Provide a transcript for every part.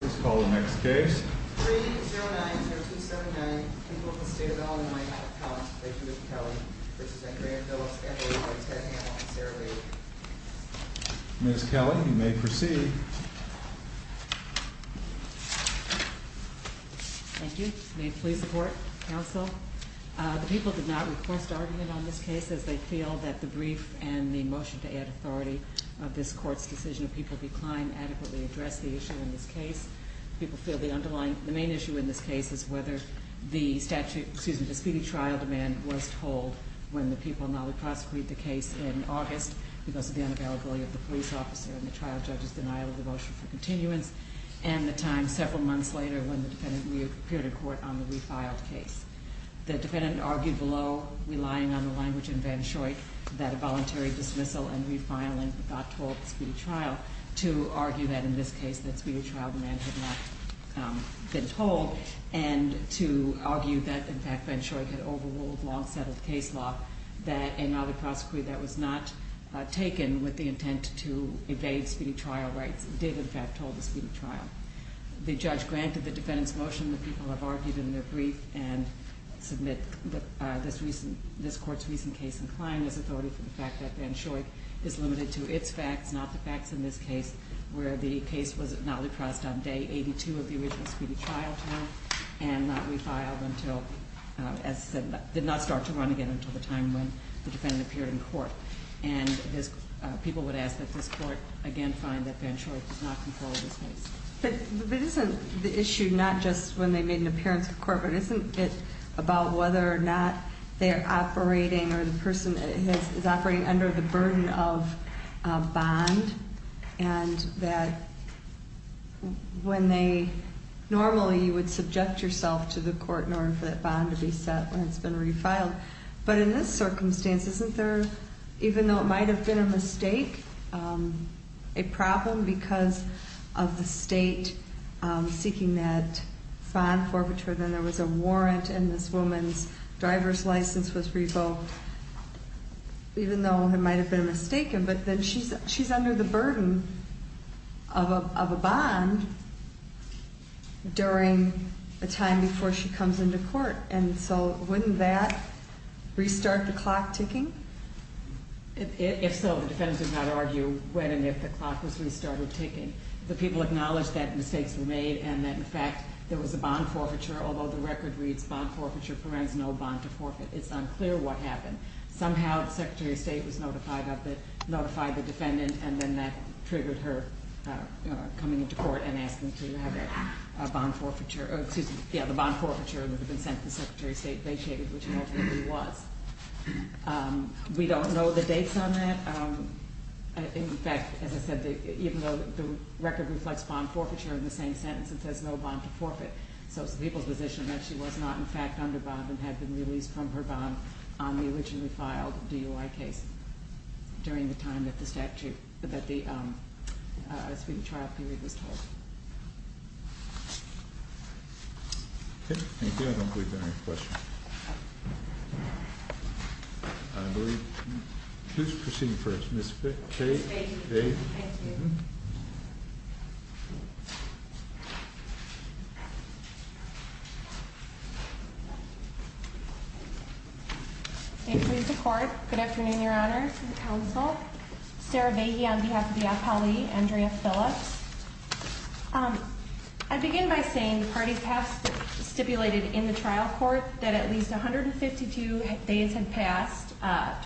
Please call the next case. Miss Kelly, you may proceed. Thank you. Please support counsel. The people did not request argument on this case as they feel that the brief and the motion to add authority of this court's decision of people declined to adequately address the issue in this case. People feel the underlying, the main issue in this case is whether the statute, excuse me, the speedy trial demand was told when the people not only prosecuted the case in August because of the unavailability of the police officer and the trial judge's denial of the motion for continuance, and the time several months later when the defendant reappeared in court on the refiled case. The defendant argued below, relying on the language in Van Schoyck, that a voluntary dismissal and refiling got told at the speedy trial, to argue that in this case that speedy trial demand had not been told, and to argue that, in fact, Van Schoyck had overruled long-settled case law, that another prosecutor that was not taken with the intent to evade speedy trial rights did, in fact, told the speedy trial. The judge granted the defendant's motion. The people have argued in their brief and submit that this recent, this court's recent case inclined as authority for the fact that Van Schoyck is limited to its facts, not the facts in this case, where the case was not repressed on day 82 of the original speedy trial term, and not refiled until, as I said, did not start to run again until the time when the defendant appeared in court. And this, people would ask that this court again find that Van Schoyck did not control this case. But isn't the issue not just when they made an appearance in court, but isn't it about whether or not they're operating or the person is operating under the burden of a bond, and that when they, normally you would subject yourself to the court in order for that bond to be set when it's been refiled. But in this circumstance, isn't there, even though it might have been a mistake, a problem because of the state seeking that bond forfeiture, then there was a warrant and this woman's driver's license was revoked, even though it might have been mistaken, but then she's under the burden of a bond during a time before she comes into court. And so wouldn't that restart the clock ticking? If so, the defendant did not argue when and if the clock was restarted ticking. The people acknowledged that mistakes were made and that, in fact, there was a bond forfeiture, although the record reads bond forfeiture prevents no bond to forfeit. It's unclear what happened. Somehow the Secretary of State was notified of it, notified the defendant, and then that triggered her coming into court and asking to have that bond forfeiture, or excuse me, yeah, the bond forfeiture that had been sent to the Secretary of State, they stated, which it ultimately was. We don't know the dates on that. In fact, as I said, even though the record reflects bond forfeiture in the same sentence, it says no bond to forfeit. So it's the people's position that she was not, in fact, under bond and had been released from her bond on the originally filed DUI case during the time that the statute, that the trial period was told. Okay, thank you. I don't believe there are any questions. I believe, please proceed first. Ms. Fahy. Ms. Fahy. Thank you. Good afternoon, Your Honor, to the Council. Sarah Fahy on behalf of the APALE, Andrea Phillips. I begin by saying the parties have stipulated in the trial court that at least 152 days had passed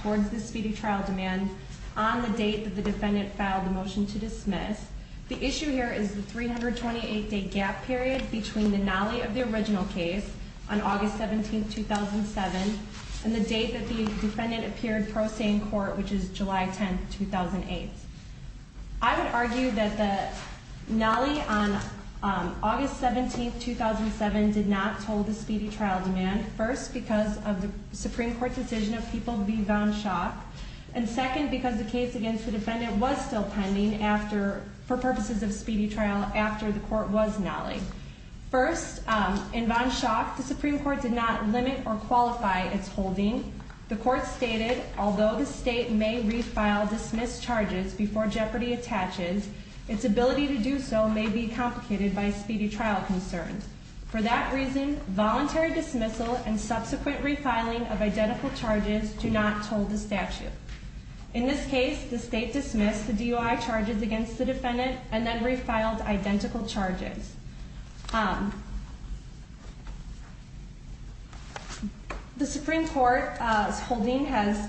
towards the speedy trial demand on the date that the defendant filed the motion to dismiss. The issue here is the 328-day gap period between the nolley of the original case on August 17, 2007, and the date that the defendant appeared pro se in court, which is July 10, 2008. I would argue that the nolley on August 17, 2007, did not fulfill the speedy trial demand, first, because of the Supreme Court's decision of people to be von Schock, and second, because the case against the defendant was still pending after, for purposes of speedy trial, after the court was nollied. First, in von Schock, the Supreme Court did not limit or qualify its holding. The court stated, although the state may refile dismissed charges before jeopardy attaches, its ability to do so may be complicated by speedy trial concerns. For that reason, voluntary dismissal and subsequent refiling of identical charges do not toll the statute. In this case, the state dismissed the DOI charges against the defendant and then refiled identical charges. The Supreme Court's holding has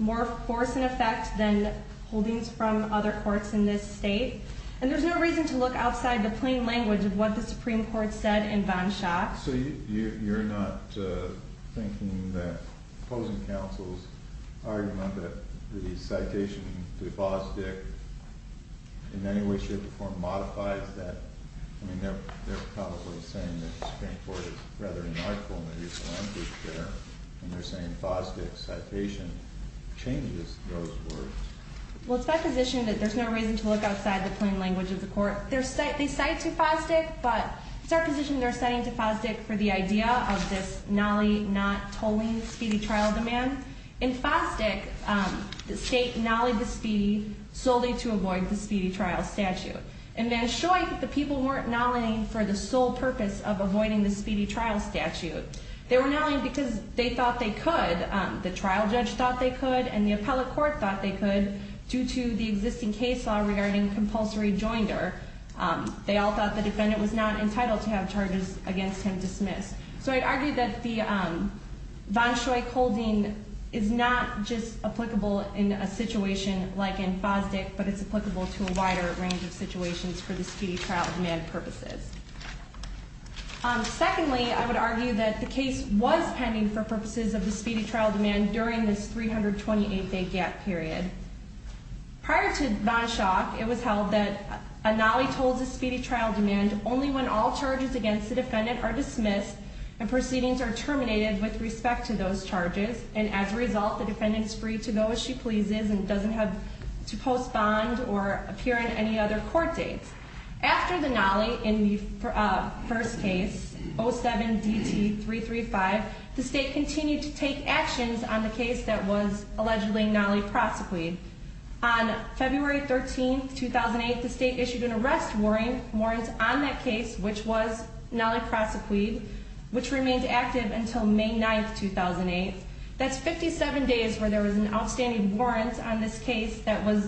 more force and effect than holdings from other courts in this state, and there's no reason to look outside the plain language of what the Supreme Court said in von Schock. So you're not thinking that opposing counsel's argument that the citation to Fosdick in any way, shape, or form modifies that? I mean, they're probably saying that the Supreme Court is rather unartful in their use of language there, and they're saying Fosdick's citation changes those words. Well, it's my position that there's no reason to look outside the plain language of the court. They cite to Fosdick, but it's our position they're citing to Fosdick for the idea of this nolly not tolling speedy trial demand. In Fosdick, the state nollied the speedy solely to avoid the speedy trial statute. In von Schock, the people weren't nollying for the sole purpose of avoiding the speedy trial statute. They were nolling because they and the appellate court thought they could due to the existing case law regarding compulsory joinder. They all thought the defendant was not entitled to have charges against him dismissed. So I'd argue that the von Schock holding is not just applicable in a situation like in Fosdick, but it's applicable to a wider range of situations for the speedy trial demand purposes. Secondly, I would argue that the case was pending for purposes of the speedy trial demand during this 328-day gap period. Prior to von Schock, it was held that a nolly tolls a speedy trial demand only when all charges against the defendant are dismissed and proceedings are terminated with respect to those charges. And as a result, the defendant is free to go as she pleases and doesn't have to post bond or appear in any other court dates. After the nolly in the first case, 07-DT-335, the state continued to take actions on the case that was allegedly nolly prosecuted. On February 13, 2008, the state issued an arrest warrant on that case, which was nolly prosecuted, which remained active until May 9, 2008. That's 57 days where there was an outstanding warrant on this case that was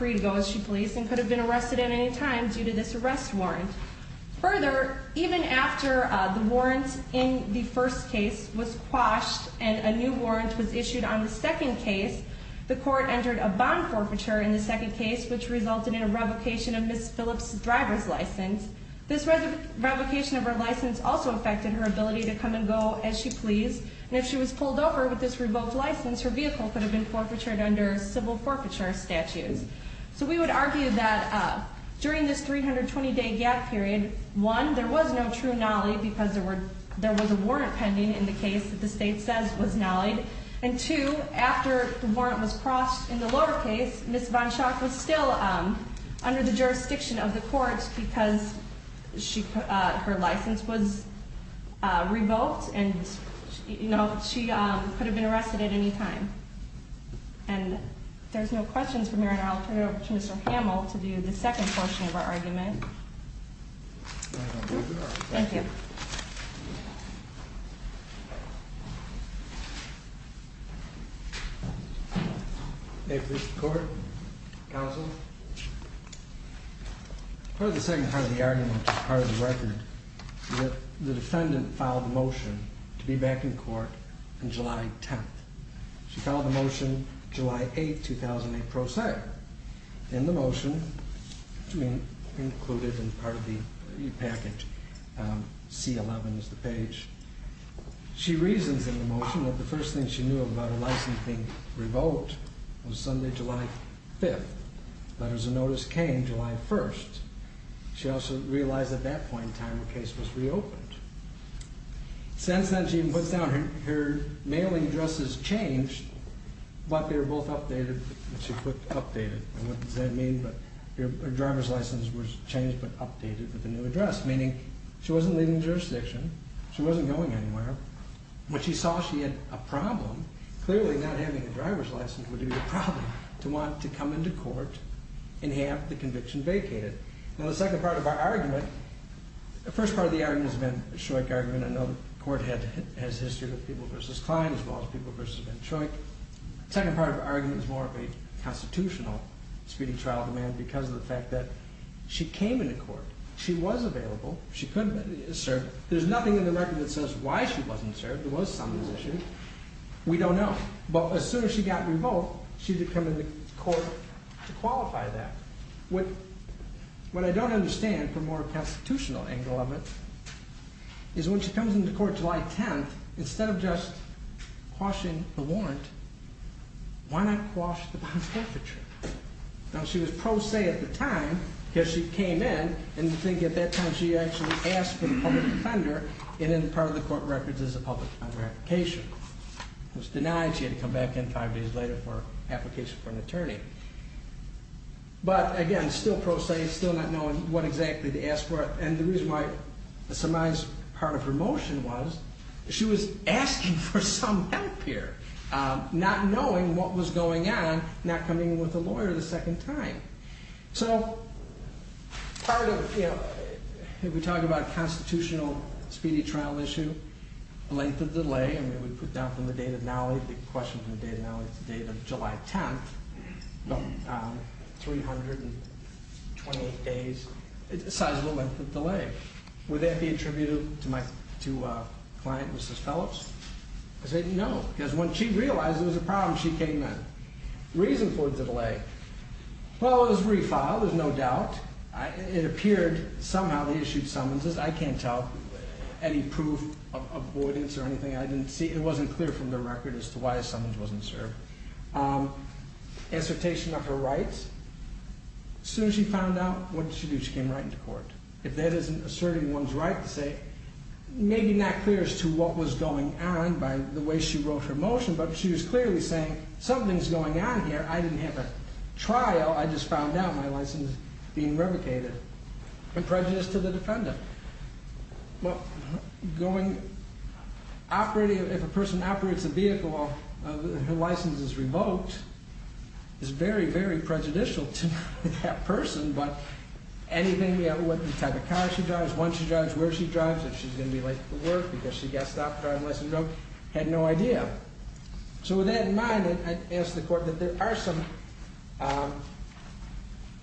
released to the police and could have been arrested at any time due to this arrest warrant. Further, even after the warrant in the first case was quashed and a new warrant was issued on the second case, the court entered a bond forfeiture in the second case, which resulted in a revocation of Ms. Phillips's driver's license. This revocation of her license also affected her ability to come and go as she pleased. And if she was pulled over with this revoked license, her vehicle could have been forfeitured under civil forfeiture statutes. So we would argue that during this 320-day gap period, one, there was no true nolly because there was a warrant pending in the case that the state says was nollied. And two, after the warrant was quashed in the lower case, Ms. Von Schach was still under the jurisdiction of the courts because her license was revoked and she could have been arrested at any time. And if there's no questions from here, I'll turn it over to Mr. Hamill to do the second portion of our argument. Thank you. May it please the Court, Counsel. Part of the second part of the argument, part of the motion, July 8, 2008, pro se. In the motion, included in part of the package, C11 is the page. She reasons in the motion that the first thing she knew about her license being revoked was Sunday, July 5th. Letters of notice came July 1st. She also realized at that point in time her case was reopened. Since then, she even puts down her mailing addresses changed, but they were both updated. She put updated. What does that mean? Her driver's license was changed but updated with a new address, meaning she wasn't leaving the jurisdiction. She wasn't going anywhere. When she saw she had a problem, clearly not having a driver's license would be a problem to want to come into court and have the conviction vacated. Now, the second part of our argument, the first part of the argument has been a Shoick argument. I know the Court has history with People v. Klein as well as People v. Ben Shoick. The second part of our argument is more of a constitutional speeding trial demand because of the fact that she came into court. She was available. She could have been served. There's nothing in the record that says why she wasn't served. There was some of this issue. We don't know. But as soon as she got revoked, she did come into court to qualify that. What I don't understand, from a more constitutional angle of it, is when she comes into court July 10th, instead of just quashing the warrant, why not quash the bond perpetrator? Now, she was pro se at the time because she came in and you'd think at that time she actually asked for the public defender and then part of the court records is a public application. It was denied. She had to come back in five days later for But again, still pro se, still not knowing what exactly to ask for. And the reason why it surmised part of her motion was she was asking for some help here, not knowing what was going on, not coming in with a lawyer the second time. So part of, you know, if we talk about constitutional speedy trial issue, length of delay, I mean we put down from the date of now, the question from the date of now, the date of July 10th, 328 days, size of the length of delay. Would that be attributable to my client, Mrs. Phillips? I said no, because when she realized there was a problem, she came in. Reason for the delay? Well, it was refiled, there's no doubt. It appeared somehow they issued summonses. I can't tell any proof of avoidance or anything I didn't see. It wasn't clear from their record as to why a summons wasn't served. Assertation of her rights. As soon as she found out, what did she do? She came right into court. If that isn't asserting one's right to say, maybe not clear as to what was going on by the way she wrote her motion, but she was clearly saying something's going on here. I didn't have a trial, I just found out my license is being revocated. Prejudice to the defendant. If a person operates a vehicle and her license is revoked, it's very, very prejudicial to that person, but anything, what type of car she drives, when she drives, where she drives, if she's going to be late for work because she got stopped driving, had no idea. So with that in mind, I asked the court that there are some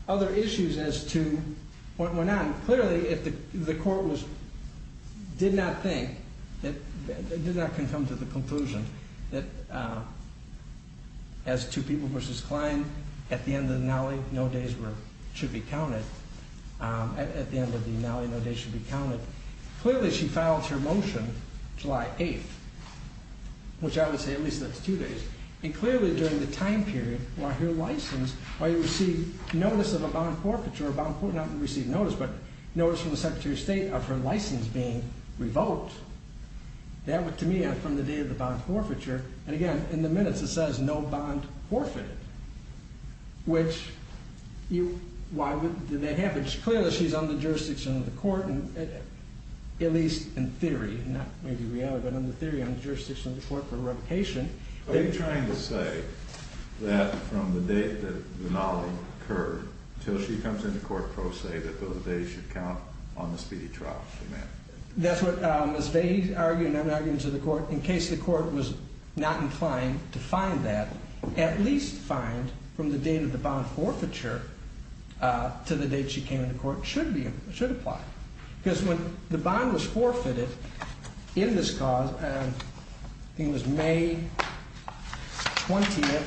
other issues as to what went on. Clearly, the court did not think, did not come to the conclusion that as two people versus Klein, at the end of the annulling, no days should be counted. At the end of the annulling, no days should be counted. Clearly she filed her motion July 8th, which I would say at least that's two days, and clearly during the time period while her license, while you receive notice of a bond forfeiture, not receive notice, but notice from the Secretary of State of her license being revoked, that to me from the day of the bond forfeiture, and again in the minutes it says no bond forfeited, which you, why would that happen? Clearly she's on the jurisdiction of the court, at least in theory, not maybe reality, but in theory on the jurisdiction of the court for revocation. Are you trying to say that from the date that the annulling occurred until she comes into court, pro se, that those days should count on the speedy trial? That's what Ms. Vahey argued, and I'm arguing to the court, in case the court was not inclined to find that, at least find from the date of the bond forfeiture to the date she came into court, should apply. Because when the bond was forfeited in this cause, I think it was May 20th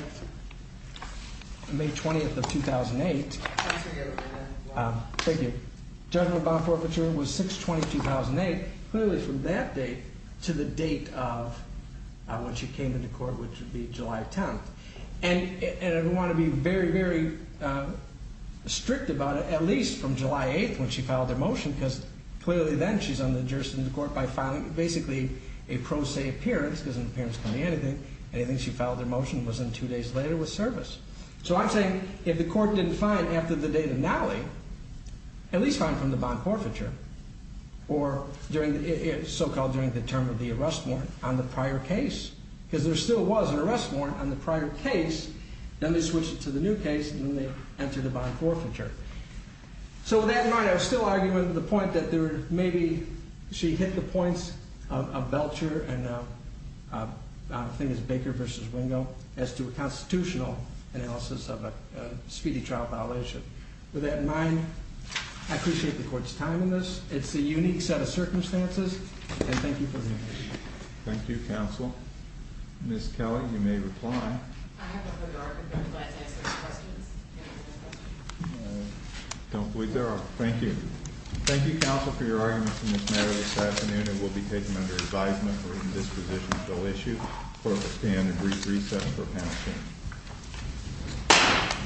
of 2008, judgment bond forfeiture was 6-20-2008, clearly from that date to the date of when she came into court, which would be July 10th. And we want to be very, very strict about it, at least from July 8th when she filed her motion, because clearly then she's on the jurisdiction of the court by filing basically a pro se appearance, because an appearance can be anything, anything she filed her motion was in two days later with service. So I'm saying if the court didn't find after the date of annulling, at least find from the bond forfeiture, or during, so-called during the term of the arrest warrant on the prior case, because there still was an arrest warrant on the prior case, then they switched it to the new case, and then they entered a bond forfeiture. So with that in mind, I would still argue with the point that there, maybe she hit the points of Belcher and I think it was Baker v. Wingo as to a constitutional analysis of a speedy trial violation. With that in mind, I appreciate the court's time in this. It's a unique set of circumstances, and thank you for the information. Thank you, Counsel. Ms. Kelly, you may reply. I don't believe there are. Thank you. Thank you, Counsel, for your arguments in this matter this afternoon, and we'll be taking them under advisement for written disposition until issued for a stand and brief recess for a panel session.